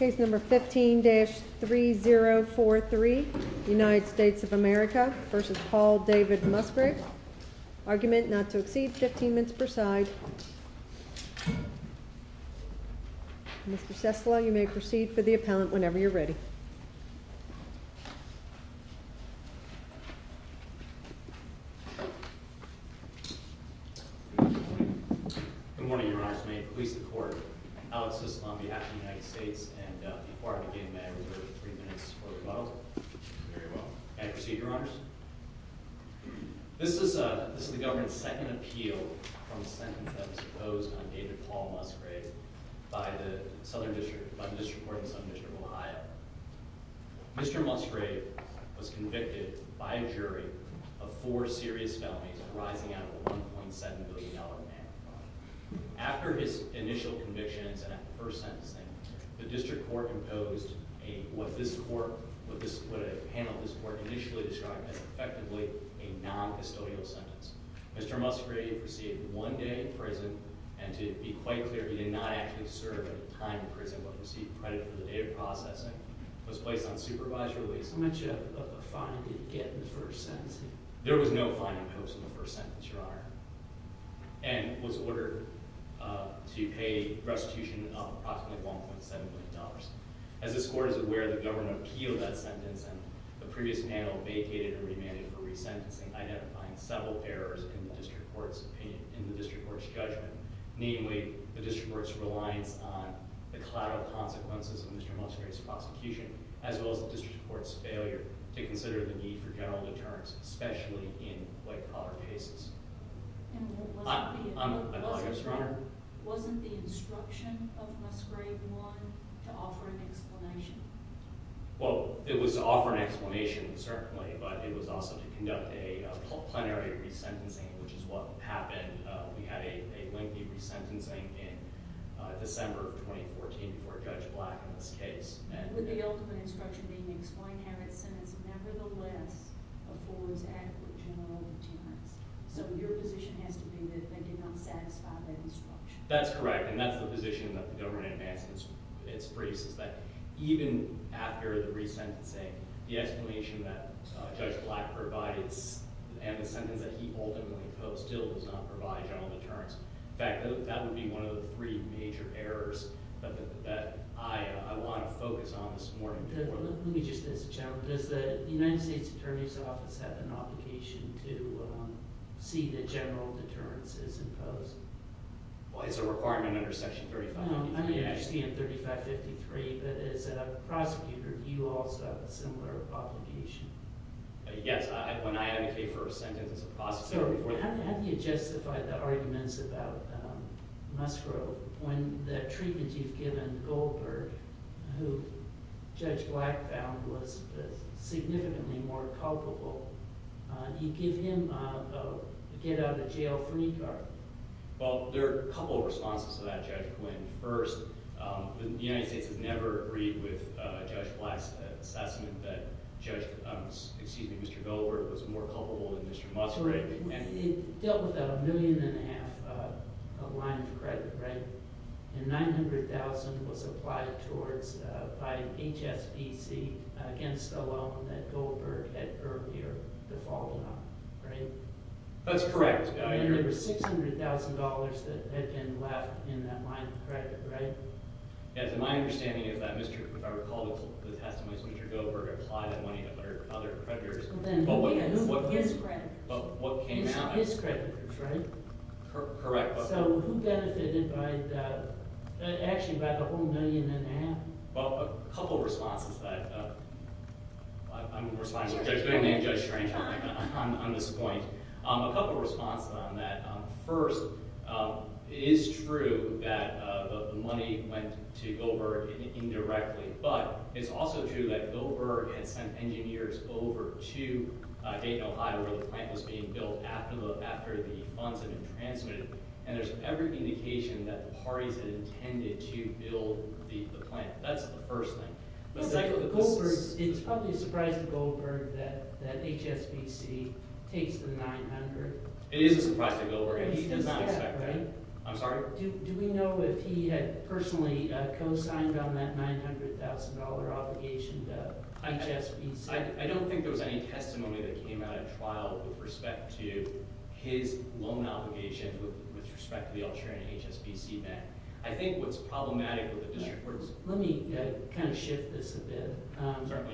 15-3043 Good morning, Your Honors. May it please the Court, I'll assist on behalf of the United States. And before I begin, may I reserve three minutes for rebuttal? Very well. May I proceed, Your Honors? This is the government's second appeal from a sentence that was imposed on David Paul Musgrave by the Southern District Court in Southern District of Ohio. Mr. Musgrave was convicted by a jury of four serious felonies arising out of a $1.7 billion amount. After his initial convictions and first sentencing, the District Court imposed what this panel initially described as effectively a non-custodial sentence. Mr. Musgrave received one day in prison, and to be quite clear, he did not actually serve any time in prison but received credit for the data processing. He was placed on supervised release. How much of a fine did he get in the first sentence? There was no fine imposed in the first sentence, Your Honor, and was ordered to pay restitution of approximately $1.7 billion. As this Court is aware, the government appealed that sentence, and the previous panel vacated and remanded for resentencing, identifying several errors in the District Court's judgment. Namely, the District Court's reliance on the collateral consequences of Mr. Musgrave's prosecution, as well as the District Court's failure to consider the need for general deterrence, especially in white-collar cases. Wasn't the instruction of Musgrave I to offer an explanation? Well, it was to offer an explanation, certainly, but it was also to conduct a plenary resentencing, which is what happened. We had a lengthy resentencing in December of 2014 before Judge Black in this case. Would the ultimate instruction be to explain how that sentence, nevertheless, affords adequate general deterrence? So your position has to be that they did not satisfy that instruction. That's correct, and that's the position that the government advanced in its briefs, is that even after the resentencing, the explanation that Judge Black provides and the sentence that he ultimately imposed still does not provide general deterrence. In fact, that would be one of the three major errors that I want to focus on this morning. Let me just ask the gentleman, does the United States Attorney's Office have an obligation to see that general deterrence is imposed? Well, it's a requirement under Section 3553. No, I understand 3553, but as a prosecutor, do you also have a similar obligation? Yes, when I advocate for a sentence as a prosecutor. How do you justify the arguments about Musgrove when the treatment you've given Goldberg, who Judge Black found was significantly more culpable, you give him a get-out-of-jail-free card? Well, there are a couple of responses to that, Judge Quinn. First, the United States has never agreed with Judge Black's assessment that Mr. Goldberg was more culpable than Mr. Musgrove. It dealt with a million-and-a-half line of credit, right? And $900,000 was applied towards by HSBC against a loan that Goldberg had earlier defaulted on, right? That's correct. And there were $600,000 that had been left in that line of credit, right? Yes, and my understanding is that Mr. – if I recall the testimony, Mr. Goldberg applied that money to other creditors. His creditors. His creditors, right? Correct. So who benefited by the – actually, by the whole million-and-a-half? Well, a couple of responses to that. I'm responsible. I'm going to name Judge Strange on this point. A couple of responses on that. First, it is true that the money went to Goldberg indirectly. But it's also true that Goldberg had sent engineers over to Dayton, Ohio, where the plant was being built after the funds had been transmitted. And there's every indication that the parties had intended to build the plant. That's the first thing. The second – But Goldberg – it's probably a surprise to Goldberg that HSBC takes the $900,000. It is a surprise to Goldberg. He did not expect that. I'm sorry? Do we know if he had personally co-signed on that $900,000 obligation to HSBC? I don't think there was any testimony that came out at trial with respect to his loan obligation with respect to the altering HSBC debt. I think what's problematic with the district was – Certainly,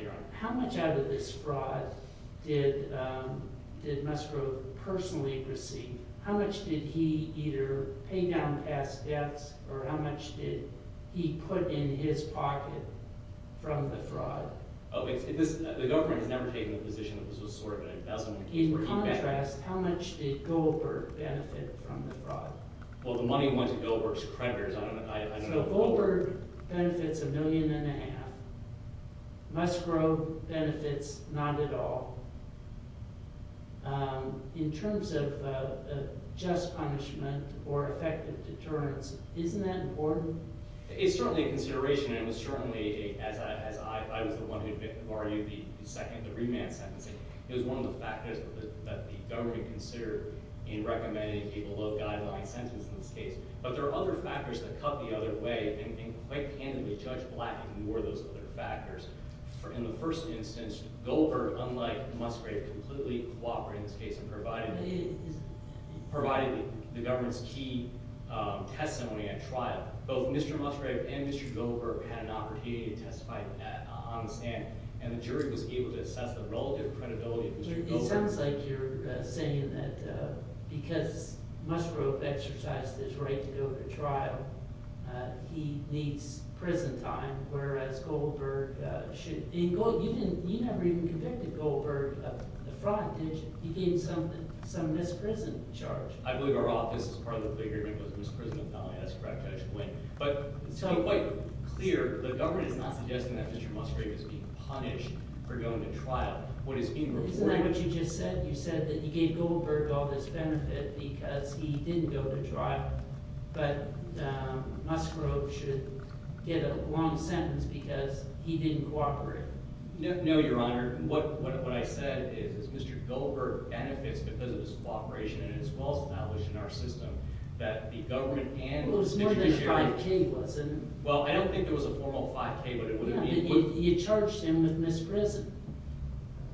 Your Honor. How much out of this fraud did Musgrove personally receive? How much did he either pay down past debts, or how much did he put in his pocket from the fraud? The government has never taken the position that this was sort of an investment. In contrast, how much did Goldberg benefit from the fraud? Well, the money went to Goldberg's creditors. So Goldberg benefits a million and a half. Musgrove benefits not at all. In terms of just punishment or effective deterrence, isn't that important? It's certainly a consideration, and it was certainly – as I was the one who argued the second – the remand sentence. It was one of the factors that the government considered in recommending a below-guideline sentence in this case. But there are other factors that cut the other way, and quite candidly, Judge Black ignored those other factors. In the first instance, Goldberg, unlike Musgrove, completely cooperated in this case and provided the government's key testimony at trial. Both Mr. Musgrove and Mr. Goldberg had an opportunity to testify on the stand, and the jury was able to assess the relative credibility of Mr. Goldberg. Well, it sounds like you're saying that because Musgrove exercised his right to go to trial, he needs prison time, whereas Goldberg should – you never even convicted Goldberg of the fraud, did you? He gained some misprison charge. I believe our office's part of the agreement was misprisonment, and I only asked for that judge to win. But to be quite clear, the government is not suggesting that Mr. Musgrove is being punished for going to trial. Isn't that what you just said? You said that you gave Goldberg all this benefit because he didn't go to trial, but Musgrove should get a long sentence because he didn't cooperate. No, Your Honor. What I said is Mr. Goldberg benefits because of his cooperation, and it's well established in our system that the government and the judiciary… Well, it was more than a 5K, wasn't it? Well, I don't think it was a formal 5K, but it would have been. You charged him with misprison.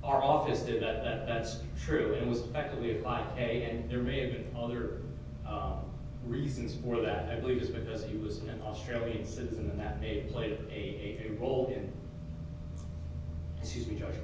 Our office did. That's true, and it was effectively a 5K, and there may have been other reasons for that. I believe it's because he was an Australian citizen, and that may have played a role in – excuse me, Judge,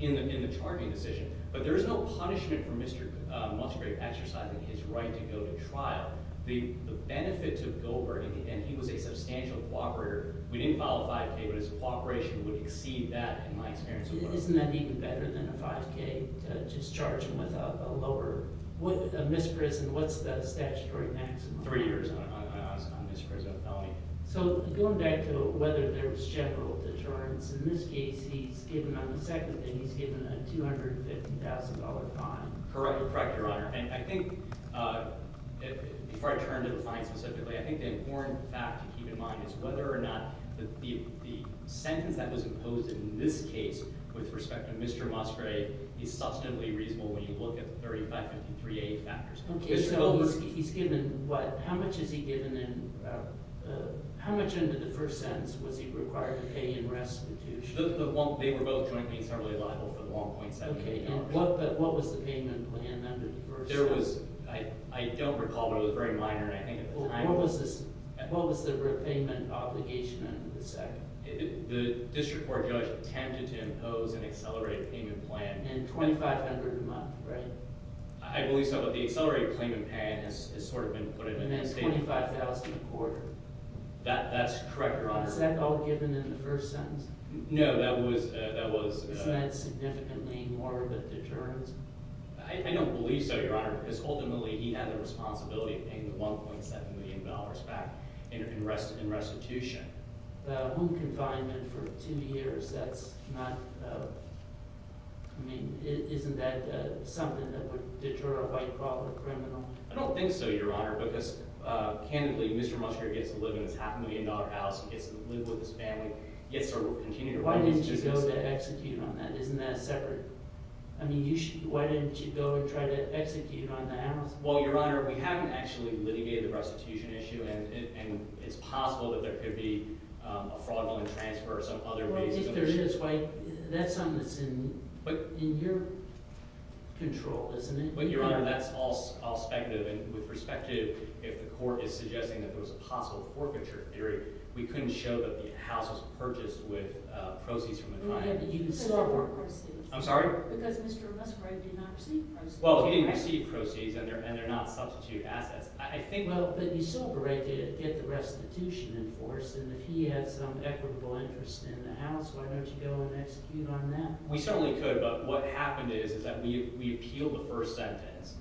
in the charging decision. But there is no punishment for Mr. Musgrove exercising his right to go to trial. The benefit to Goldberg – and he was a substantial cooperator. We didn't file a 5K, but his cooperation would exceed that in my experience. Isn't that even better than a 5K to just charge him with a lower – a misprison? What's the statutory maximum? Three years on misprison felony. So going back to whether there was general deterrence, in this case, he's given – on the second day, he's given a $250,000 fine. Correct, Your Honor. And I think – before I turn to the fine specifically, I think the important fact to keep in mind is whether or not the sentence that was imposed in this case with respect to Mr. Musgrove is substantively reasonable when you look at the 3553A factors. Okay, so he's given what – how much is he given in – how much into the first sentence was he required to pay in restitution? They were both jointly and severally liable for the 1.7 million dollars. Okay, and what was the payment plan under the first sentence? There was – I don't recall, but it was very minor, and I think – What was the repayment obligation under the second? The district court judge attempted to impose an accelerated payment plan. And $2,500 a month, right? I believe so, but the accelerated payment plan has sort of been put in the state – And that's $25,000 a quarter. That's correct, Your Honor. Was that all given in the first sentence? No, that was – that was – I don't believe so, Your Honor, because ultimately he had the responsibility of paying the $1.7 million back in restitution. The home confinement for two years, that's not – I mean, isn't that something that would deter a white-collar criminal? I don't think so, Your Honor, because, candidly, Mr. Musgrove gets to live in his half-million-dollar house. He gets to live with his family. Why didn't you go to execute on that? Isn't that separate? I mean, you should – why didn't you go and try to execute on that? Well, Your Honor, we haven't actually litigated the restitution issue, and it's possible that there could be a fraudulent transfer or some other reason. Well, if there is, why – that's something that's in your control, isn't it? Well, Your Honor, that's all speculative, and with respect to if the court is suggesting that there was a possible forfeiture theory, we couldn't show that the house was purchased with proceeds from the client. You sold the proceeds. I'm sorry? Because Mr. Musgrove did not receive proceeds. Well, he didn't receive proceeds, and they're not substitute assets. I think – Well, but you sold the right to get the restitution enforced, and if he had some equitable interest in the house, why don't you go and execute on that? We certainly could, but what happened is that we appealed the first sentence,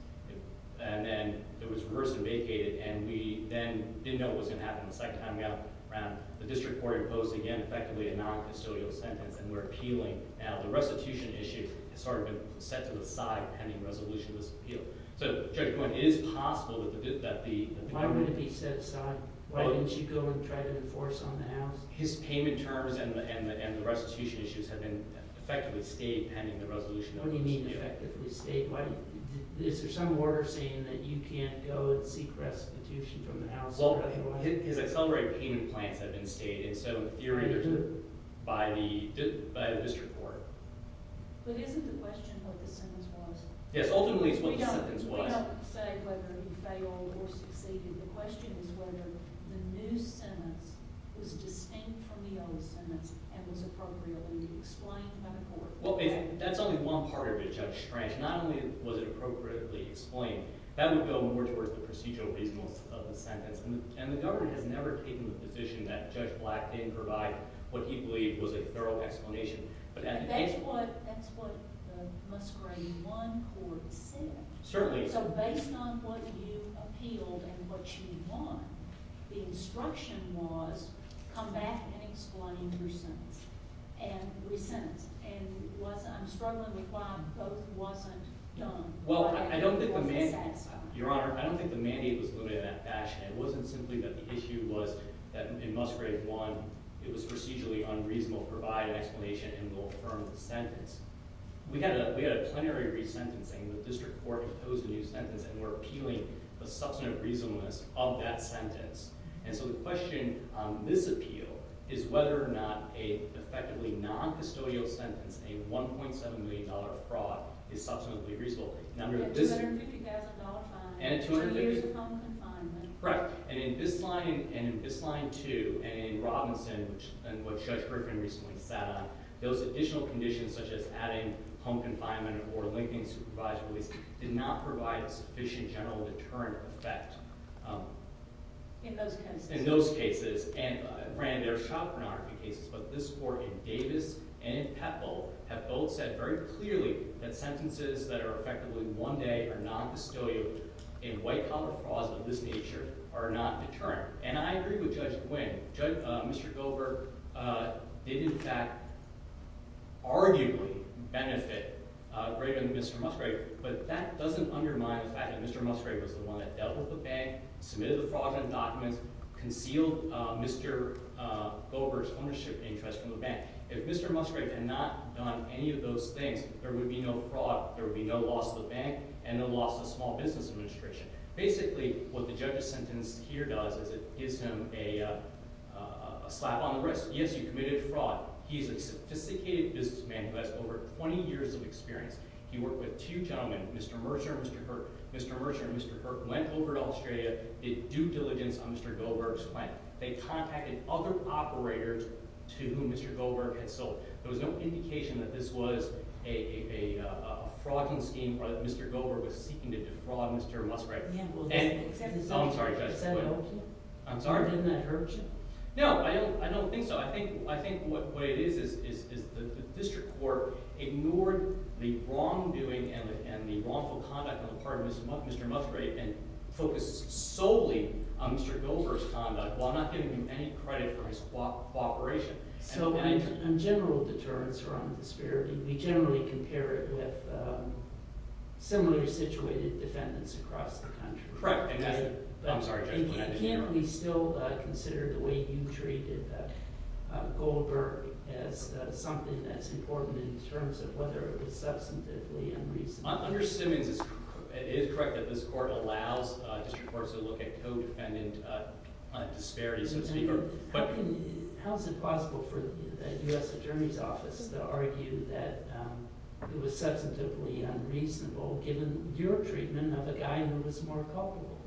and then it was reversed and vacated, and we then didn't know what was going to happen the second time around. The district court imposed, again, effectively a non-custodial sentence, and we're appealing. Now, the restitution issue has sort of been set to the side pending resolution of this appeal. So Judge Coyne, it is possible that the – Why would it be set aside? Why didn't you go and try to enforce on the house? His payment terms and the restitution issues have been effectively stayed pending the resolution of this appeal. What do you mean effectively stayed? Is there some order saying that you can't go and seek restitution from the house? Well, his accelerated payment plans have been stayed, and so theoretically by the district court. But isn't the question what the sentence was? Yes. Ultimately, it's what the sentence was. We don't say whether he failed or succeeded. The question is whether the new sentence was distinct from the old sentence and was appropriately explained by the court. Well, that's only one part of it, Judge Strange. Not only was it appropriately explained, that would go more towards the procedural reasonableness of the sentence. And the government has never taken the position that Judge Black didn't provide what he believed was a thorough explanation. That's what the Musgrave I court said. Certainly. So based on what you appealed and what you won, the instruction was come back and explain your sentence. And re-sentence. And I'm struggling with why both wasn't done. Your Honor, I don't think the mandate was limited in that fashion. It wasn't simply that the issue was that in Musgrave I it was procedurally unreasonable to provide an explanation and will affirm the sentence. We had a plenary re-sentencing. The district court imposed a new sentence, and we're appealing the substantive reasonableness of that sentence. And so the question on this appeal is whether or not an effectively non-custodial sentence, a $1.7 million fraud, is substantively reasonable. And a $250,000 fine and two years of home confinement. Correct. And in this line and in this line, too, and in Robinson and what Judge Griffin recently sat on, those additional conditions such as adding home confinement or linking supervised release did not provide a sufficient general deterrent effect. In those cases. In those cases. And, Rand, there are chaperonarchy cases, but this court in Davis and in Petbo have both said very clearly that sentences that are effectively one day or non-custodial in white-collar frauds of this nature are not deterrent. And I agree with Judge Nguyen. Mr. Gover did, in fact, arguably benefit greater than Mr. Musgrave. But that doesn't undermine the fact that Mr. Musgrave was the one that dealt with the bank, submitted the fraudulent documents, concealed Mr. Gover's ownership interest from the bank. If Mr. Musgrave had not done any of those things, there would be no fraud, there would be no loss to the bank, and no loss to the Small Business Administration. Basically, what the judge's sentence here does is it gives him a slap on the wrist. Yes, you committed fraud. He's a sophisticated businessman who has over 20 years of experience. He worked with two gentlemen, Mr. Mercer and Mr. Kirk. Mr. Mercer and Mr. Kirk went over to Australia, did due diligence on Mr. Gover's plan. They contacted other operators to whom Mr. Gover had sold. There was no indication that this was a fraudulent scheme or that Mr. Gover was seeking to defraud Mr. Musgrave. Yeah, well, exactly. Oh, I'm sorry, Judge. Does that help you? I'm sorry? Or did that hurt you? No, I don't think so. I think what it is is the district court ignored the wrongdoing and the wrongful conduct on the part of Mr. Musgrave and focused solely on Mr. Gover's conduct while not giving him any credit for his cooperation. So, on general deterrence or on disparity, we generally compare it with similarly situated defendants across the country. Correct, exactly. I'm sorry, Judge. Can we still consider the way you treated Gover as something that's important in terms of whether it was substantively unreasonable? Under Stimmings, it is correct that this court allows district courts to look at co-defendant disparities, so to speak. How is it possible for the U.S. Attorney's Office to argue that it was substantively unreasonable given your treatment of a guy who was more culpable?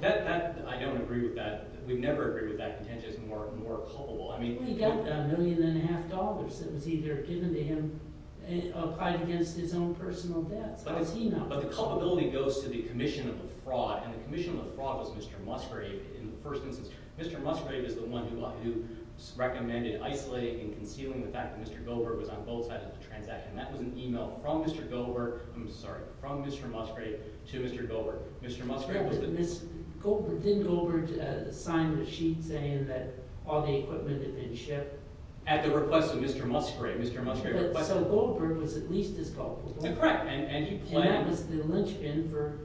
That – I don't agree with that. We'd never agree with that contention as more culpable. He got a million and a half dollars that was either given to him or applied against his own personal debts. How is he not culpable? But the culpability goes to the commission of the fraud, and the commission of the fraud was Mr. Musgrave in the first instance. Mr. Musgrave is the one who recommended isolating and concealing the fact that Mr. Gover was on both sides of the transaction. That was an email from Mr. Gover – I'm sorry, from Mr. Musgrave to Mr. Gover. Didn't Gover sign the sheet saying that all the equipment had been shipped? At the request of Mr. Musgrave. So Gover was at least as culpable. Correct, and he planned – And that was the lynchpin for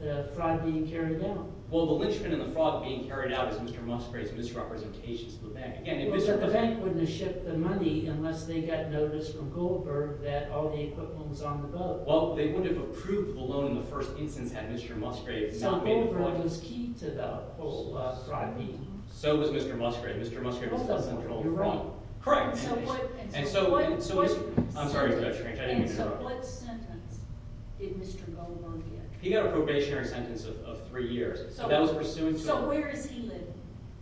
the fraud being carried out. Well, the lynchpin and the fraud being carried out is Mr. Musgrave's misrepresentation to the bank. But the bank wouldn't have shipped the money unless they got notice from Gover that all the equipment was on the boat. Well, they would have approved the loan in the first instance had Mr. Musgrave – So Gover was key to the whole crime scene. So was Mr. Musgrave. Mr. Musgrave was the central fraud. You're wrong. Correct. And so what – I'm sorry if that's strange. I didn't mean to interrupt. And so what sentence did Mr. Gover get? He got a probationary sentence of three years. So where is he living?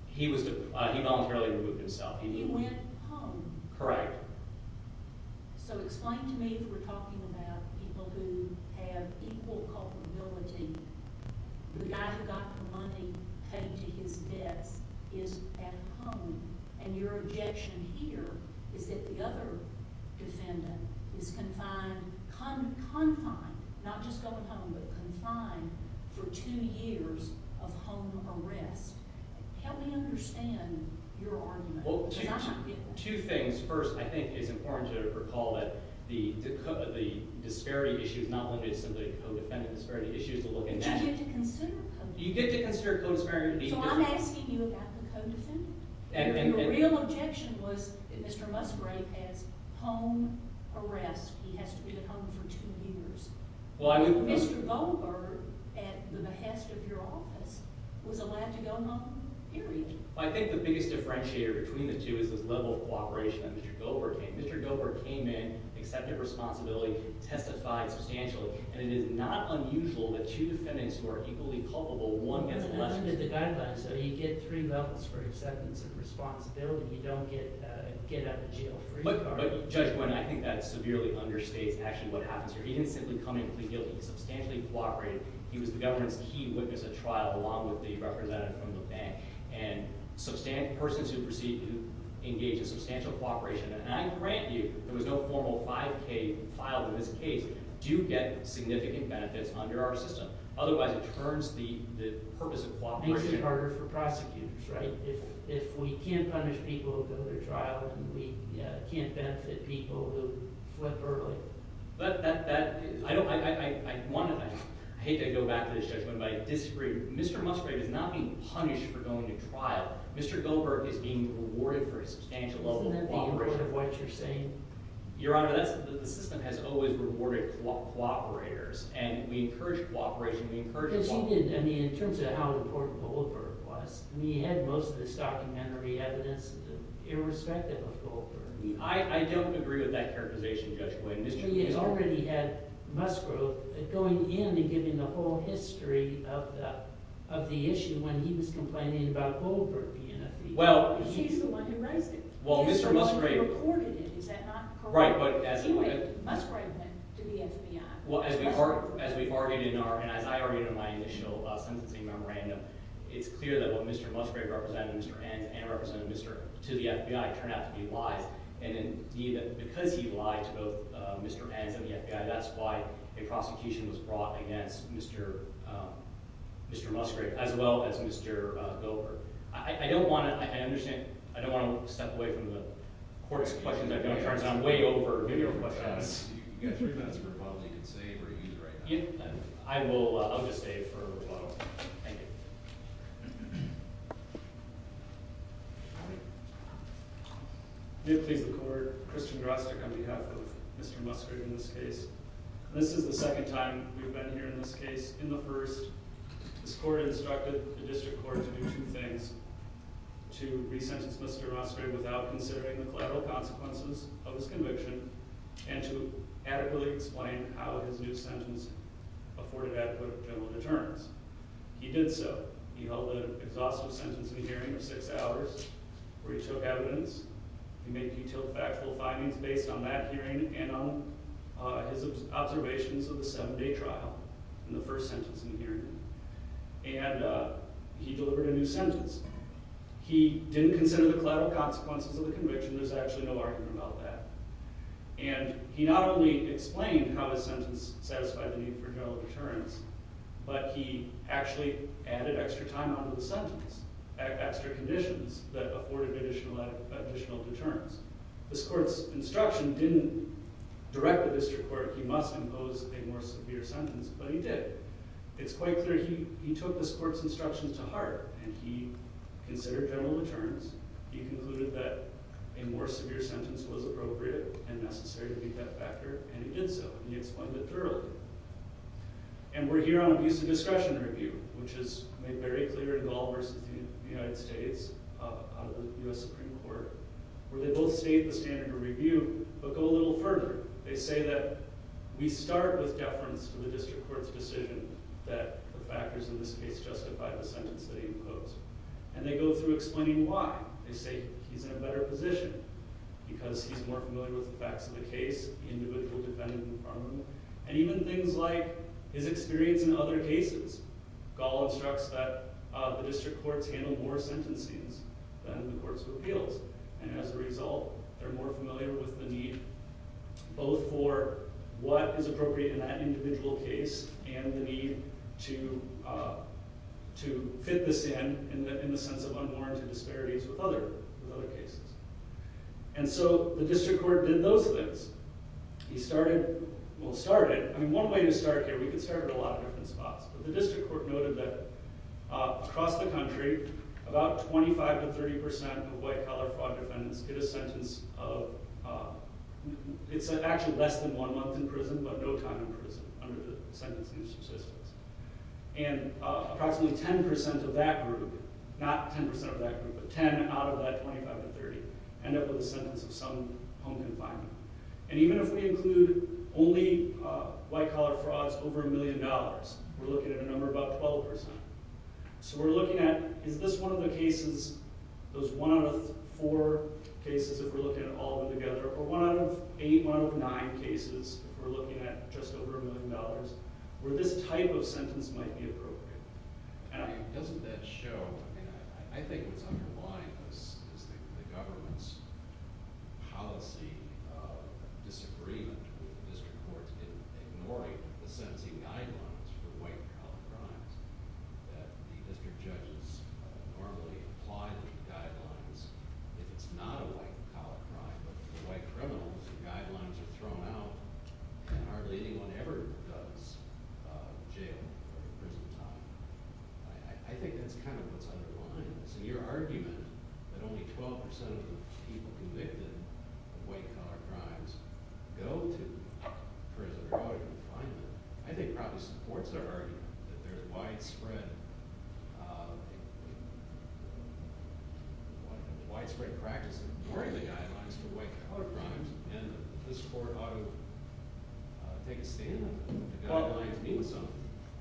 He voluntarily removed himself. And he went home. Correct. So explain to me if we're talking about people who have equal culpability. The guy who got the money paid to his debts is at home, and your objection here is that the other defendant is confined – confined, not just going home, but confined for two years of home arrest. Help me understand your argument. Well, two things. First, I think it's important to recall that the disparity issue is not limited to simply co-defendant disparity issues. But you get to consider co-defendant. You get to consider co-defendant. So I'm asking you about the co-defendant. Your real objection was that Mr. Musgrave has home arrest. He has to be at home for two years. Mr. Gover, at the behest of your office, was allowed to go home, period. I think the biggest differentiator between the two is the level of cooperation that Mr. Gover came in. Mr. Gover came in, accepted responsibility, testified substantially. And it is not unusual that two defendants who are equally culpable, one gets less responsibility. But under the guidelines, though, you get three levels for acceptance and responsibility. You don't get a get-out-of-jail-free card. But, Judge Gwinn, I think that severely understates actually what happens here. He didn't simply come in and plead guilty. He substantially cooperated. And persons who proceed to engage in substantial cooperation, and I grant you there was no formal 5K filed in this case, do get significant benefits under our system. Otherwise, it turns the purpose of cooperation— Makes it harder for prosecutors, right? If we can't punish people who go to trial and we can't benefit people, we'll flip early. But that—I hate to go back to this, Judge Gwinn, but I disagree. Mr. Musgrove is not being punished for going to trial. Mr. Gover is being rewarded for his substantial level of cooperation. Isn't that the image of what you're saying? Your Honor, that's—the system has always rewarded cooperators, and we encourage cooperation. We encourage cooperation. Because he did—I mean, in terms of how important Goldberg was, I mean, he had most of this documentary evidence irrespective of Goldberg. I don't agree with that characterization, Judge Gwinn. He has already had Musgrove going in and giving the whole history of the issue when he was complaining about Goldberg being a thief. Well— He's the one who raised it. Well, Mr. Musgrove— Mr. Musgrove reported it. Is that not correct? Right, but as— Anyway, Musgrove went to the FBI. Well, as we've argued in our—and as I argued in my initial sentencing memorandum, it's clear that what Mr. Musgrove represented and Mr. Hansen represented to the FBI turned out to be lies. And indeed, because he lied to both Mr. Hansen and the FBI, that's why a prosecution was brought against Mr. Musgrove as well as Mr. Goldberg. I don't want to—I understand—I don't want to step away from the court's questions. I'm going to turn this way over to your questions. You've got three minutes for a rebuttal. You can save or use it right now. I will—I'll just save for a rebuttal. Thank you. May it please the court, Christian Grostick on behalf of Mr. Musgrove in this case. This is the second time we've been here in this case. In the first, this court instructed the district court to do two things, to resentence Mr. Musgrove without considering the collateral consequences of his conviction and to adequately explain how his new sentence afforded adequate general deterrence. He did so. He held an exhaustive sentence in the hearing of six hours where he took evidence. He made putil factual findings based on that hearing and on his observations of the seven-day trial in the first sentence in the hearing. And he delivered a new sentence. He didn't consider the collateral consequences of the conviction. There's actually no argument about that. And he not only explained how his sentence satisfied the need for general deterrence, but he actually added extra time onto the sentence, added extra conditions that afforded additional deterrence. This court's instruction didn't direct the district court, he must impose a more severe sentence, but he did. It's quite clear he took this court's instructions to heart and he considered general deterrence. He concluded that a more severe sentence was appropriate and necessary to meet that factor, and he did so. And he explained it thoroughly. And we're here on abuse of discretion review, which is made very clear in Gall v. the United States, out of the U.S. Supreme Court, where they both state the standard of review but go a little further. They say that we start with deference to the district court's decision that the factors in this case justify the sentence that he imposed. And they go through explaining why. They say he's in a better position because he's more familiar with the facts of the case, the individual defendant in front of him, and even things like his experience in other cases. Gall instructs that the district courts handle more sentencing than the courts of appeals. And as a result, they're more familiar with the need both for what is appropriate in that individual case and the need to fit this in, in the sense of unwarranted disparities with other cases. And so the district court did those things. He started – well, started – I mean, one way to start here, we could start at a lot of different spots. But the district court noted that across the country, about 25 to 30 percent of white-collar fraud defendants get a sentence of – it's actually less than one month in prison, but no time in prison under the sentencing of subsistence. And approximately 10 percent of that group – not 10 percent of that group, but 10 out of that 25 to 30 – end up with a sentence of some home confinement. And even if we include only white-collar frauds over a million dollars, we're looking at a number about 12 percent. So we're looking at, is this one of the cases, those one out of four cases, if we're looking at all of them together, or one out of eight, one out of nine cases, if we're looking at just over a million dollars, where this type of sentence might be appropriate? I mean, doesn't that show – I mean, I think what's underlying this is the government's policy of disagreement with the district courts in ignoring the sentencing guidelines for white-collar crimes. That the district judges normally apply the guidelines if it's not a white-collar crime. But for white criminals, the guidelines are thrown out, and hardly anyone ever goes to jail or to prison time. I think that's kind of what's underlying this. And your argument that only 12 percent of the people convicted of white-collar crimes go to prison or go to confinement, I think probably supports our argument that there's widespread practice of ignoring the guidelines for white-collar crimes. And this court ought to take a stand on that. The guidelines mean something.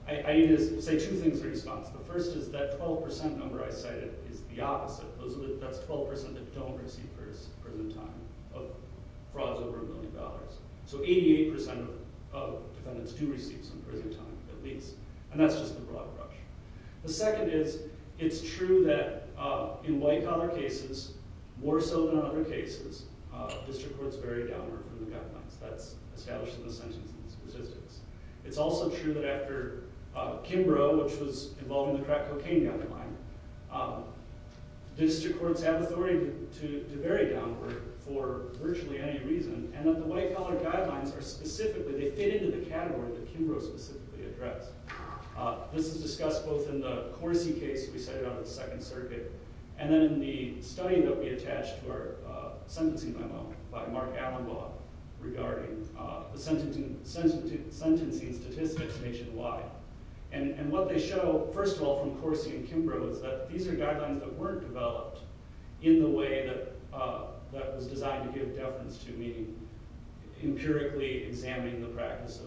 I need to say two things in response. The first is that 12 percent number I cited is the opposite. That's 12 percent that don't receive prison time of frauds over a million dollars. So 88 percent of defendants do receive some prison time, at least. And that's just the broad approach. The second is, it's true that in white-collar cases, more so than other cases, district courts vary downward from the guidelines. That's established in the sentencing statistics. It's also true that after Kimbrough, which was involved in the crack cocaine guideline, district courts have authority to vary downward for virtually any reason, and that the white-collar guidelines are specific. They fit into the category that Kimbrough specifically addressed. This is discussed both in the Corsi case we cited out of the Second Circuit and then in the study that we attached to our sentencing memo by Mark Allenbaugh regarding the sentencing statistics nationwide. And what they show, first of all, from Corsi and Kimbrough, is that these are guidelines that weren't developed in the way that was designed to give deference to me, empirically examining the practice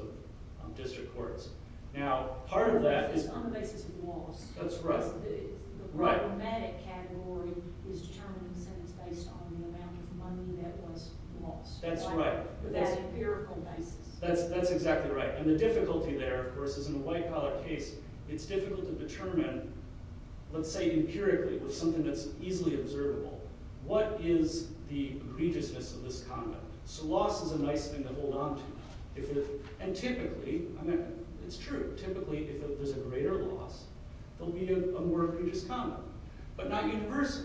of district courts. Now, part of that is… On the basis of loss. That's right. The problematic category is determining sentence based on the amount of money that was lost. That's right. That empirical basis. That's exactly right. And the difficulty there, of course, is in a white-collar case, it's difficult to determine, let's say empirically, with something that's easily observable, what is the egregiousness of this conduct? So loss is a nice thing to hold on to. And typically… It's true. Typically, if there's a greater loss, there'll be a more egregious conduct. But not universally.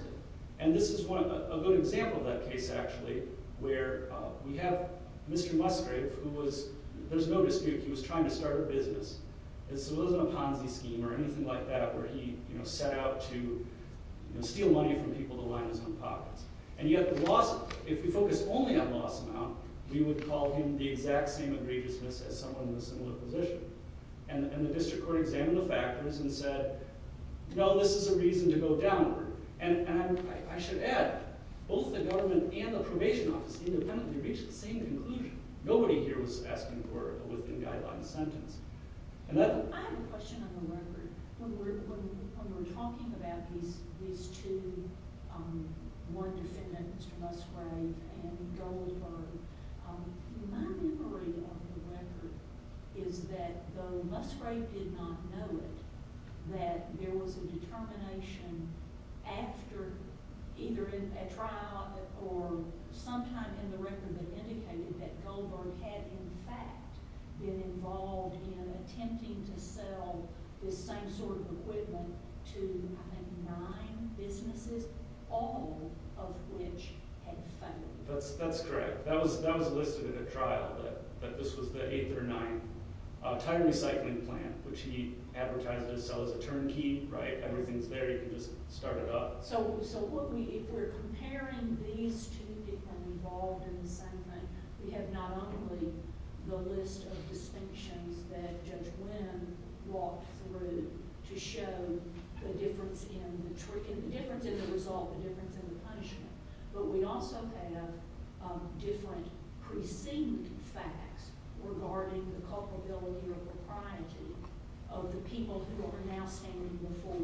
And this is a good example of that case, actually, where we have Mr. Musgrave, who was… There's no dispute he was trying to start a business. This wasn't a Ponzi scheme or anything like that where he set out to steal money from people to line his own pockets. And yet the loss… If we focus only on loss amount, we would call him the exact same egregiousness as someone in a similar position. And the district court examined the factors and said, no, this is a reason to go downward. And I should add, both the government and the probation office independently reached the same conclusion. Nobody here was asking for a within-guideline sentence. I have a question on the record. When we're talking about these two, one defendant, Mr. Musgrave, and Goldberg, my memory of the record is that though Musgrave did not know it, that there was a determination after either a trial or sometime in the record that indicated that Goldberg had, in fact, been involved in attempting to sell this same sort of equipment to, I think, nine businesses, all of which had failed. That's correct. That was listed in a trial that this was the eighth or ninth. Tire recycling plant, which he advertised to sell as a turnkey, right? Everything's there. You can just start it up. So if we're comparing these two people involved in the same thing, we have not only the list of distinctions that Judge Wynn walked through to show the difference in the result, the difference in the punishment, but we also have different preceding facts regarding the culpability or propriety of the people who are now standing before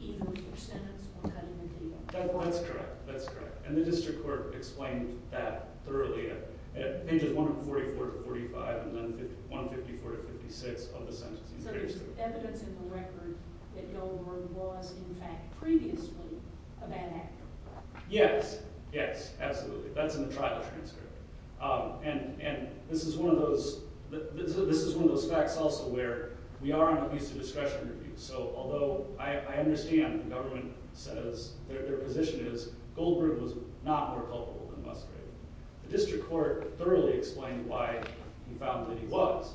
even with their sentence or cutting the deal. That's correct. That's correct. And the district court explained that thoroughly at pages 144 to 45 and then 154 to 56 of the sentencing. So there's evidence in the record that Goldberg was, in fact, previously a bad actor. Yes. Yes, absolutely. That's in the trial transcript. And this is one of those facts also where we are on an abuse of discretion review. So although I understand the government says their position is Goldberg was not more culpable than Musgrave, the district court thoroughly explained why we found that he was.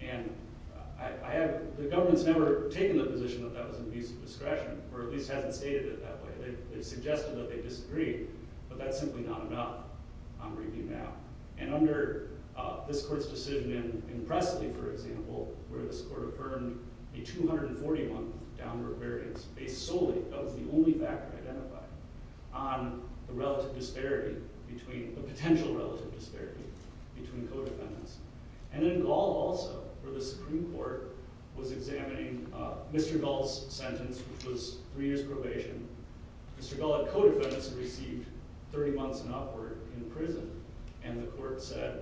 And the government's never taken the position that that was an abuse of discretion or at least hasn't stated it that way. They've suggested that they disagree, but that's simply not enough. I'm reading now. And under this court's decision in Presley, for example, where this court affirmed a 241th downward variance based solely, that was the only factor identified, on the relative disparity between the potential relative disparity between co-defendants. And in Gall, also, where the Supreme Court was examining Mr. Gall's sentence, which was three years probation, Mr. Gall, a co-defendant, received 30 months and upward in prison. And the court said,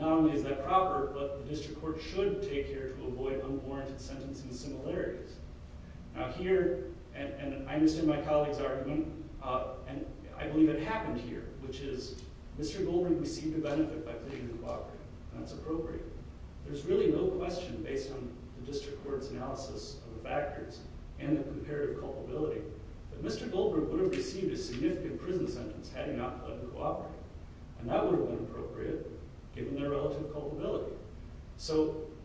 not only is that proper, but the district court should take care to avoid unwarranted sentencing similarities. Now, here, and I understand my colleague's argument, and I believe it happened here, which is Mr. Goldberg received a benefit by pleading cooperative, and that's appropriate. There's really no question, based on the district court's analysis of the factors and the comparative culpability, that Mr. Goldberg would have received a significant prison sentence had he not pleaded cooperative. And that would have been appropriate, given their relative culpability.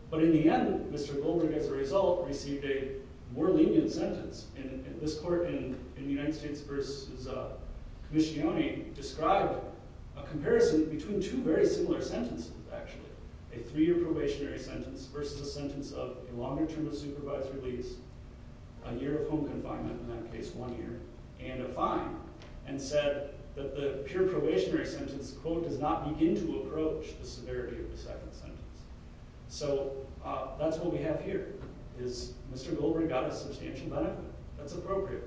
But in the end, Mr. Goldberg, as a result, received a more lenient sentence. And this court, in the United States v. Commissionione, described a comparison between two very similar sentences, actually. A three-year probationary sentence versus a sentence of a longer term of supervised release, a year of home confinement, in that case one year, and a fine. And said that the pure probationary sentence, quote, does not begin to approach the severity of the second sentence. So that's what we have here, is Mr. Goldberg got a substantial benefit. That's appropriate.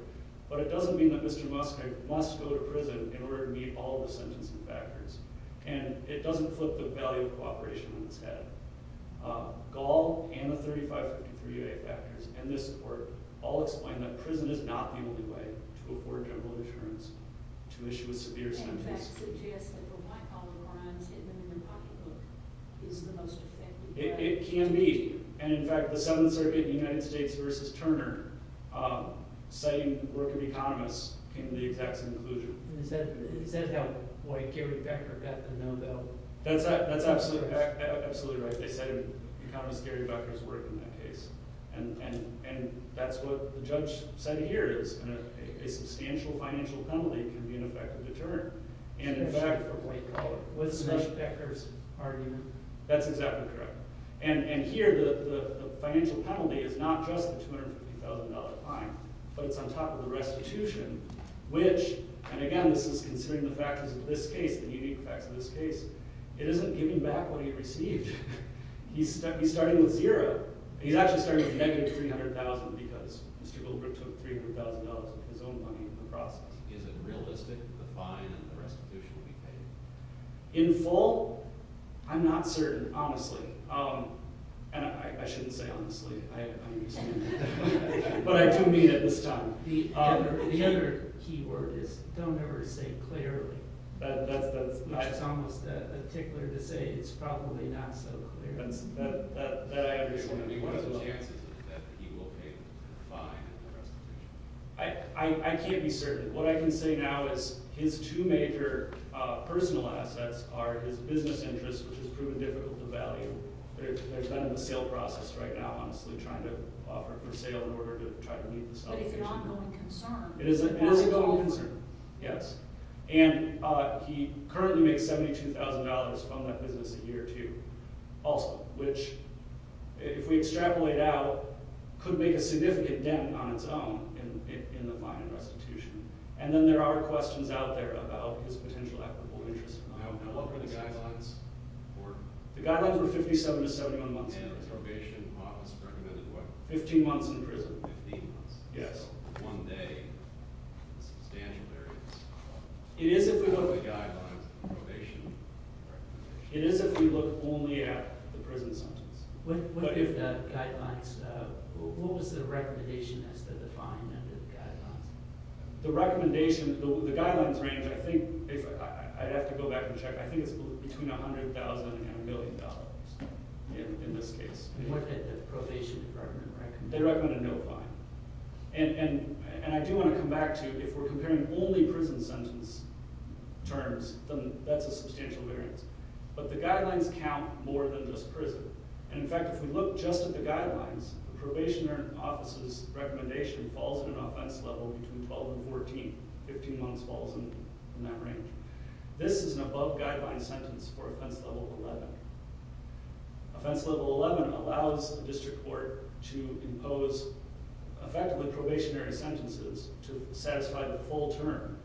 But it doesn't mean that Mr. Muska must go to prison in order to meet all the sentencing factors. And it doesn't flip the value of cooperation on its head. Gall, and the 3553A factors, and this court, all explain that prison is not the only way to afford general insurance to issue a severe sentence. It can be. And in fact, the Seventh Circuit in the United States v. Turner, citing work of economists, came to the exact same conclusion. Is that how white Gary Becker got the no vote? That's absolutely right. They said economists Gary Becker's work in that case. And that's what the judge said here, is a substantial financial penalty can be an effective deterrent. And in fact, what's Ms. Becker's argument? That's exactly correct. And here the financial penalty is not just the $250,000 fine. But it's on top of the restitution, which, and again, this is considering the factors of this case, the unique facts of this case. It isn't giving back what he received. He's starting with zero. He's actually starting with negative $300,000 because Mr. Goldberg took $300,000 of his own money in the process. Is it realistic, the fine and the restitution will be paid? In full? I'm not certain, honestly. And I shouldn't say honestly. I'm used to it. But I do mean it this time. The other key word is, don't ever say clearly. That's almost a tickler to say, it's probably not so clear. That I understand. What are the chances that he will pay the fine and the restitution? I can't be certain. What I can say now is his two major personal assets are his business interests, which has proven difficult to value. They've been in the sale process right now, honestly, trying to offer it for sale in order to try to meet the salary. But it's an ongoing concern. It is an ongoing concern, yes. And he currently makes $72,000 from that business a year or two. Which, if we extrapolate out, could make a significant dent on its own in the fine and restitution. And then there are questions out there about his potential equitable interests. Now, what were the guidelines for? The guidelines were 57 to 71 months in prison. And the probation office recommended what? 15 months in prison. 15 months. Yes. So one day in substantial areas. It is if we look... What were the guidelines for probation? It is if we look only at the prison sentence. What if the guidelines... What was the recommendation as to the fine under the guidelines? The recommendation... The guidelines range, I think... I'd have to go back and check. I think it's between $100,000 and $1 million in this case. And what did the probation department recommend? They recommended no fine. And I do want to come back to... If we're comparing only prison sentence terms, then that's a substantial variance. But the guidelines count more than just prison. And, in fact, if we look just at the guidelines, the probation office's recommendation falls in an offense level between 12 and 14. 15 months falls in that range. This is an above-guideline sentence for offense level 11. Offense level 11 allows the district court to impose, effectively, probationary sentences to satisfy the full term.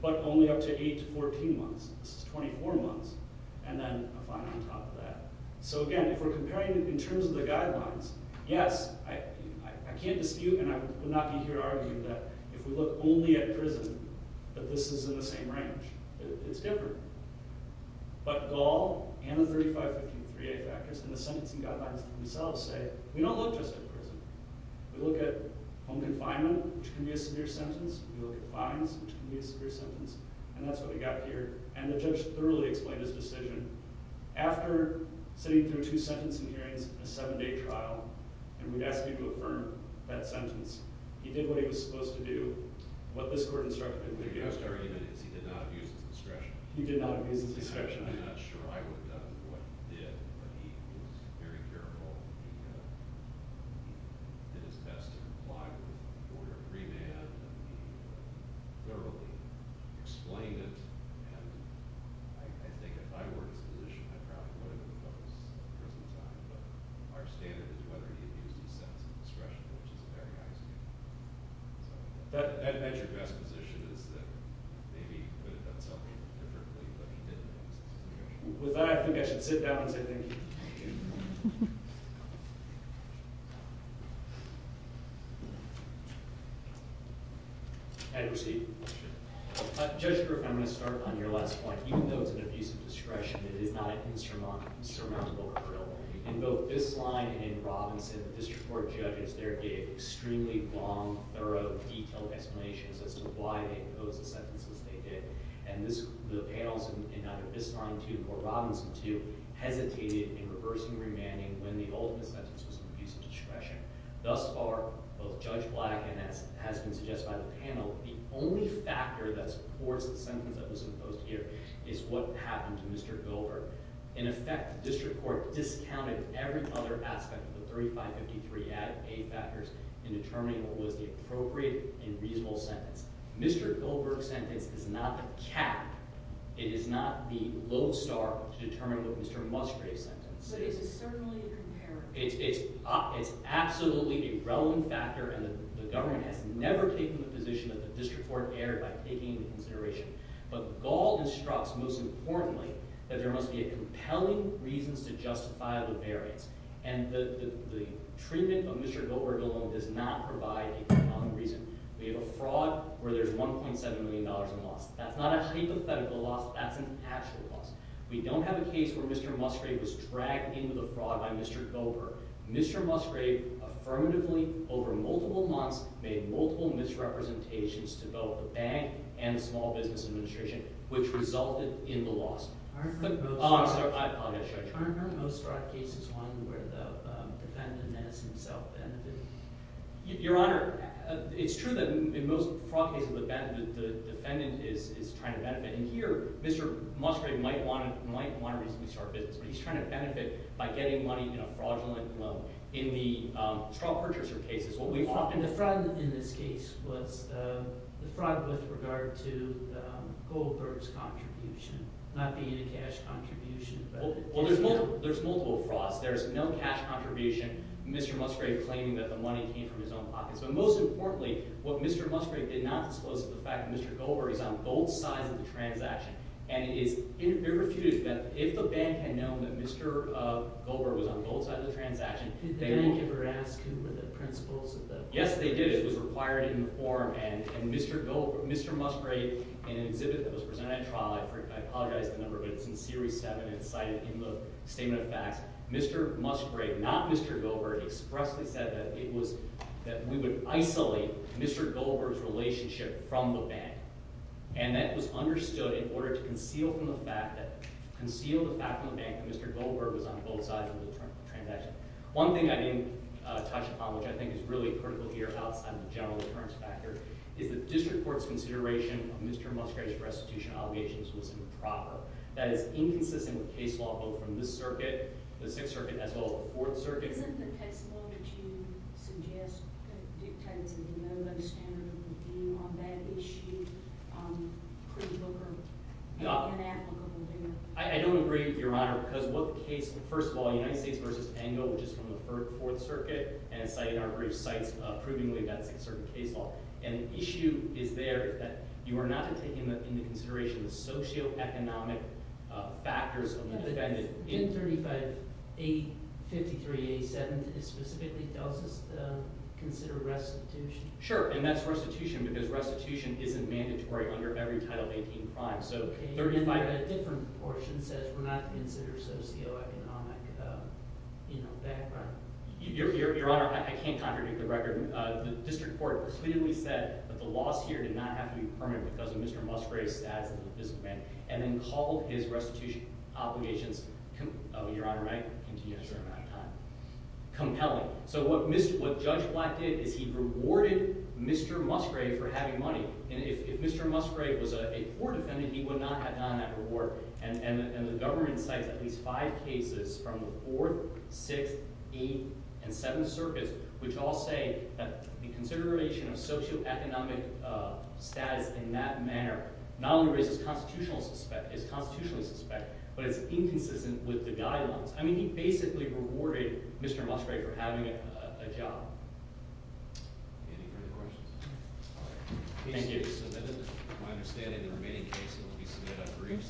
But only up to 8 to 14 months. This is 24 months. And then a fine on top of that. So, again, if we're comparing in terms of the guidelines, yes, I can't dispute, and I would not be here to argue, that if we look only at prison, that this is in the same range. It's different. But Gall and the 3515-3A factors and the sentencing guidelines themselves say we don't look just at prison. We look at home confinement, which can be a severe sentence. We look at fines, which can be a severe sentence. And that's what we got here. And the judge thoroughly explained his decision. After sitting through two sentencing hearings and a seven-day trial, and we'd asked him to affirm that sentence, he did what he was supposed to do and what this court instructed him to do. The biggest argument is he did not abuse his discretion. He did not abuse his discretion. I'm not sure I would have done what he did, but he was very careful. He did his best to comply with order of remand. He thoroughly explained it. And I think if I were in his position, I probably would have imposed prison time. But our standard is whether he abused his sentence of discretion, which is a very high standard. That's your best position, is that maybe he could have done something differently, but he didn't abuse his discretion. With that, I think I should sit down and say thank you. Thank you. And proceed. Judge Griff, I'm going to start on your last point. Even though it's an abuse of discretion, it is not a insurmountable appeal. In both Bisline and Robinson, the district court judges there gave extremely long, thorough, detailed explanations as to why they imposed the sentences they did. And the panels in either Bisline 2 or Robinson 2 hesitated in reversing remanding when the ultimate sentence was an abuse of discretion. Thus far, both Judge Black and as has been suggested by the panel, the only factor that supports the sentence that was imposed here is what happened to Mr. Gilbert. In effect, the district court discounted every other aspect of the 3553a factors in determining what was the appropriate and reasonable sentence. Mr. Gilbert's sentence is not the cap. It is not the lodestar to determine what Mr. Musgrave's sentence is. But it's certainly an imperative. It's absolutely a relevant factor, and the government has never taken the position that the district court erred by taking into consideration. But Gall instructs, most importantly, that there must be compelling reasons to justify the variance. And the treatment of Mr. Gilbert alone does not provide a compelling reason. We have a fraud where there's $1.7 million in loss. That's not a hypothetical loss. That's an actual loss. We don't have a case where Mr. Musgrave was dragged into the fraud by Mr. Gilbert. Mr. Musgrave affirmatively, over multiple months, made multiple misrepresentations to both the bank and the small business administration, which resulted in the loss. Aren't most fraud cases one where the defendant has himself benefited? Your Honor, it's true that in most fraud cases, the defendant is trying to benefit. And here, Mr. Musgrave might want to reasonably start business, but he's trying to benefit by getting money in a fraudulent loan. In the fraud purchaser case, it's what we call— And the fraud in this case was the fraud with regard to Gilbert's contribution, not being a cash contribution. Well, there's multiple frauds. There's no cash contribution, Mr. Musgrave claiming that the money came from his own pockets. But most importantly, what Mr. Musgrave did not disclose is the fact that Mr. Gilbert is on both sides of the transaction. And it is irrefutable that if the bank had known that Mr. Gilbert was on both sides of the transaction— Did the bank ever ask him what the principles of the— Yes, they did. It was required in the form. And Mr. Musgrave, in an exhibit that was presented at trial— I apologize for the number, but it's in Series 7, and it's cited in the Statement of Facts— Mr. Musgrave, not Mr. Gilbert, expressly said that it was— that we would isolate Mr. Gilbert's relationship from the bank. And that was understood in order to conceal from the bank that Mr. Gilbert was on both sides of the transaction. One thing I didn't touch upon, which I think is really critical here, outside of the general deterrence factor, is that the District Court's consideration of Mr. Musgrave's restitution obligations was improper. That is inconsistent with case law, both from this circuit, the Sixth Circuit, as well as the Fourth Circuit. Isn't the case law that you suggest dictates that there's no understandable view on that issue, pre-Booker and then after Booker? I don't agree, Your Honor, because what the case—first of all, United States v. Engel, which is from the Fourth Circuit, and it's cited in our brief, cites approvingly that Sixth Circuit case law. And the issue is there that you are not taking into consideration the socioeconomic factors of the defendant in— In 35A53A7, it specifically tells us to consider restitution. Sure, and that's restitution because restitution isn't mandatory under every Title 18 crime. Okay, but that different portion says we're not to consider socioeconomic background. Your Honor, I can't contradict the record. The District Court clearly said that the loss here did not have to be permanent because of Mr. Musgrave's status as an invisible man, and then called his restitution obligations— Your Honor, may I continue? Sure. Compelling. So what Judge Black did is he rewarded Mr. Musgrave for having money. And if Mr. Musgrave was a poor defendant, he would not have gotten that reward. And the government cites at least five cases from the Fourth, Sixth, Eighth, and Seventh Circuits, which all say that the consideration of socioeconomic status in that manner not only raises constitutional suspect— is constitutionally suspect, but it's inconsistent with the guidelines. I mean, he basically rewarded Mr. Musgrave for having a job. Any further questions? Thank you.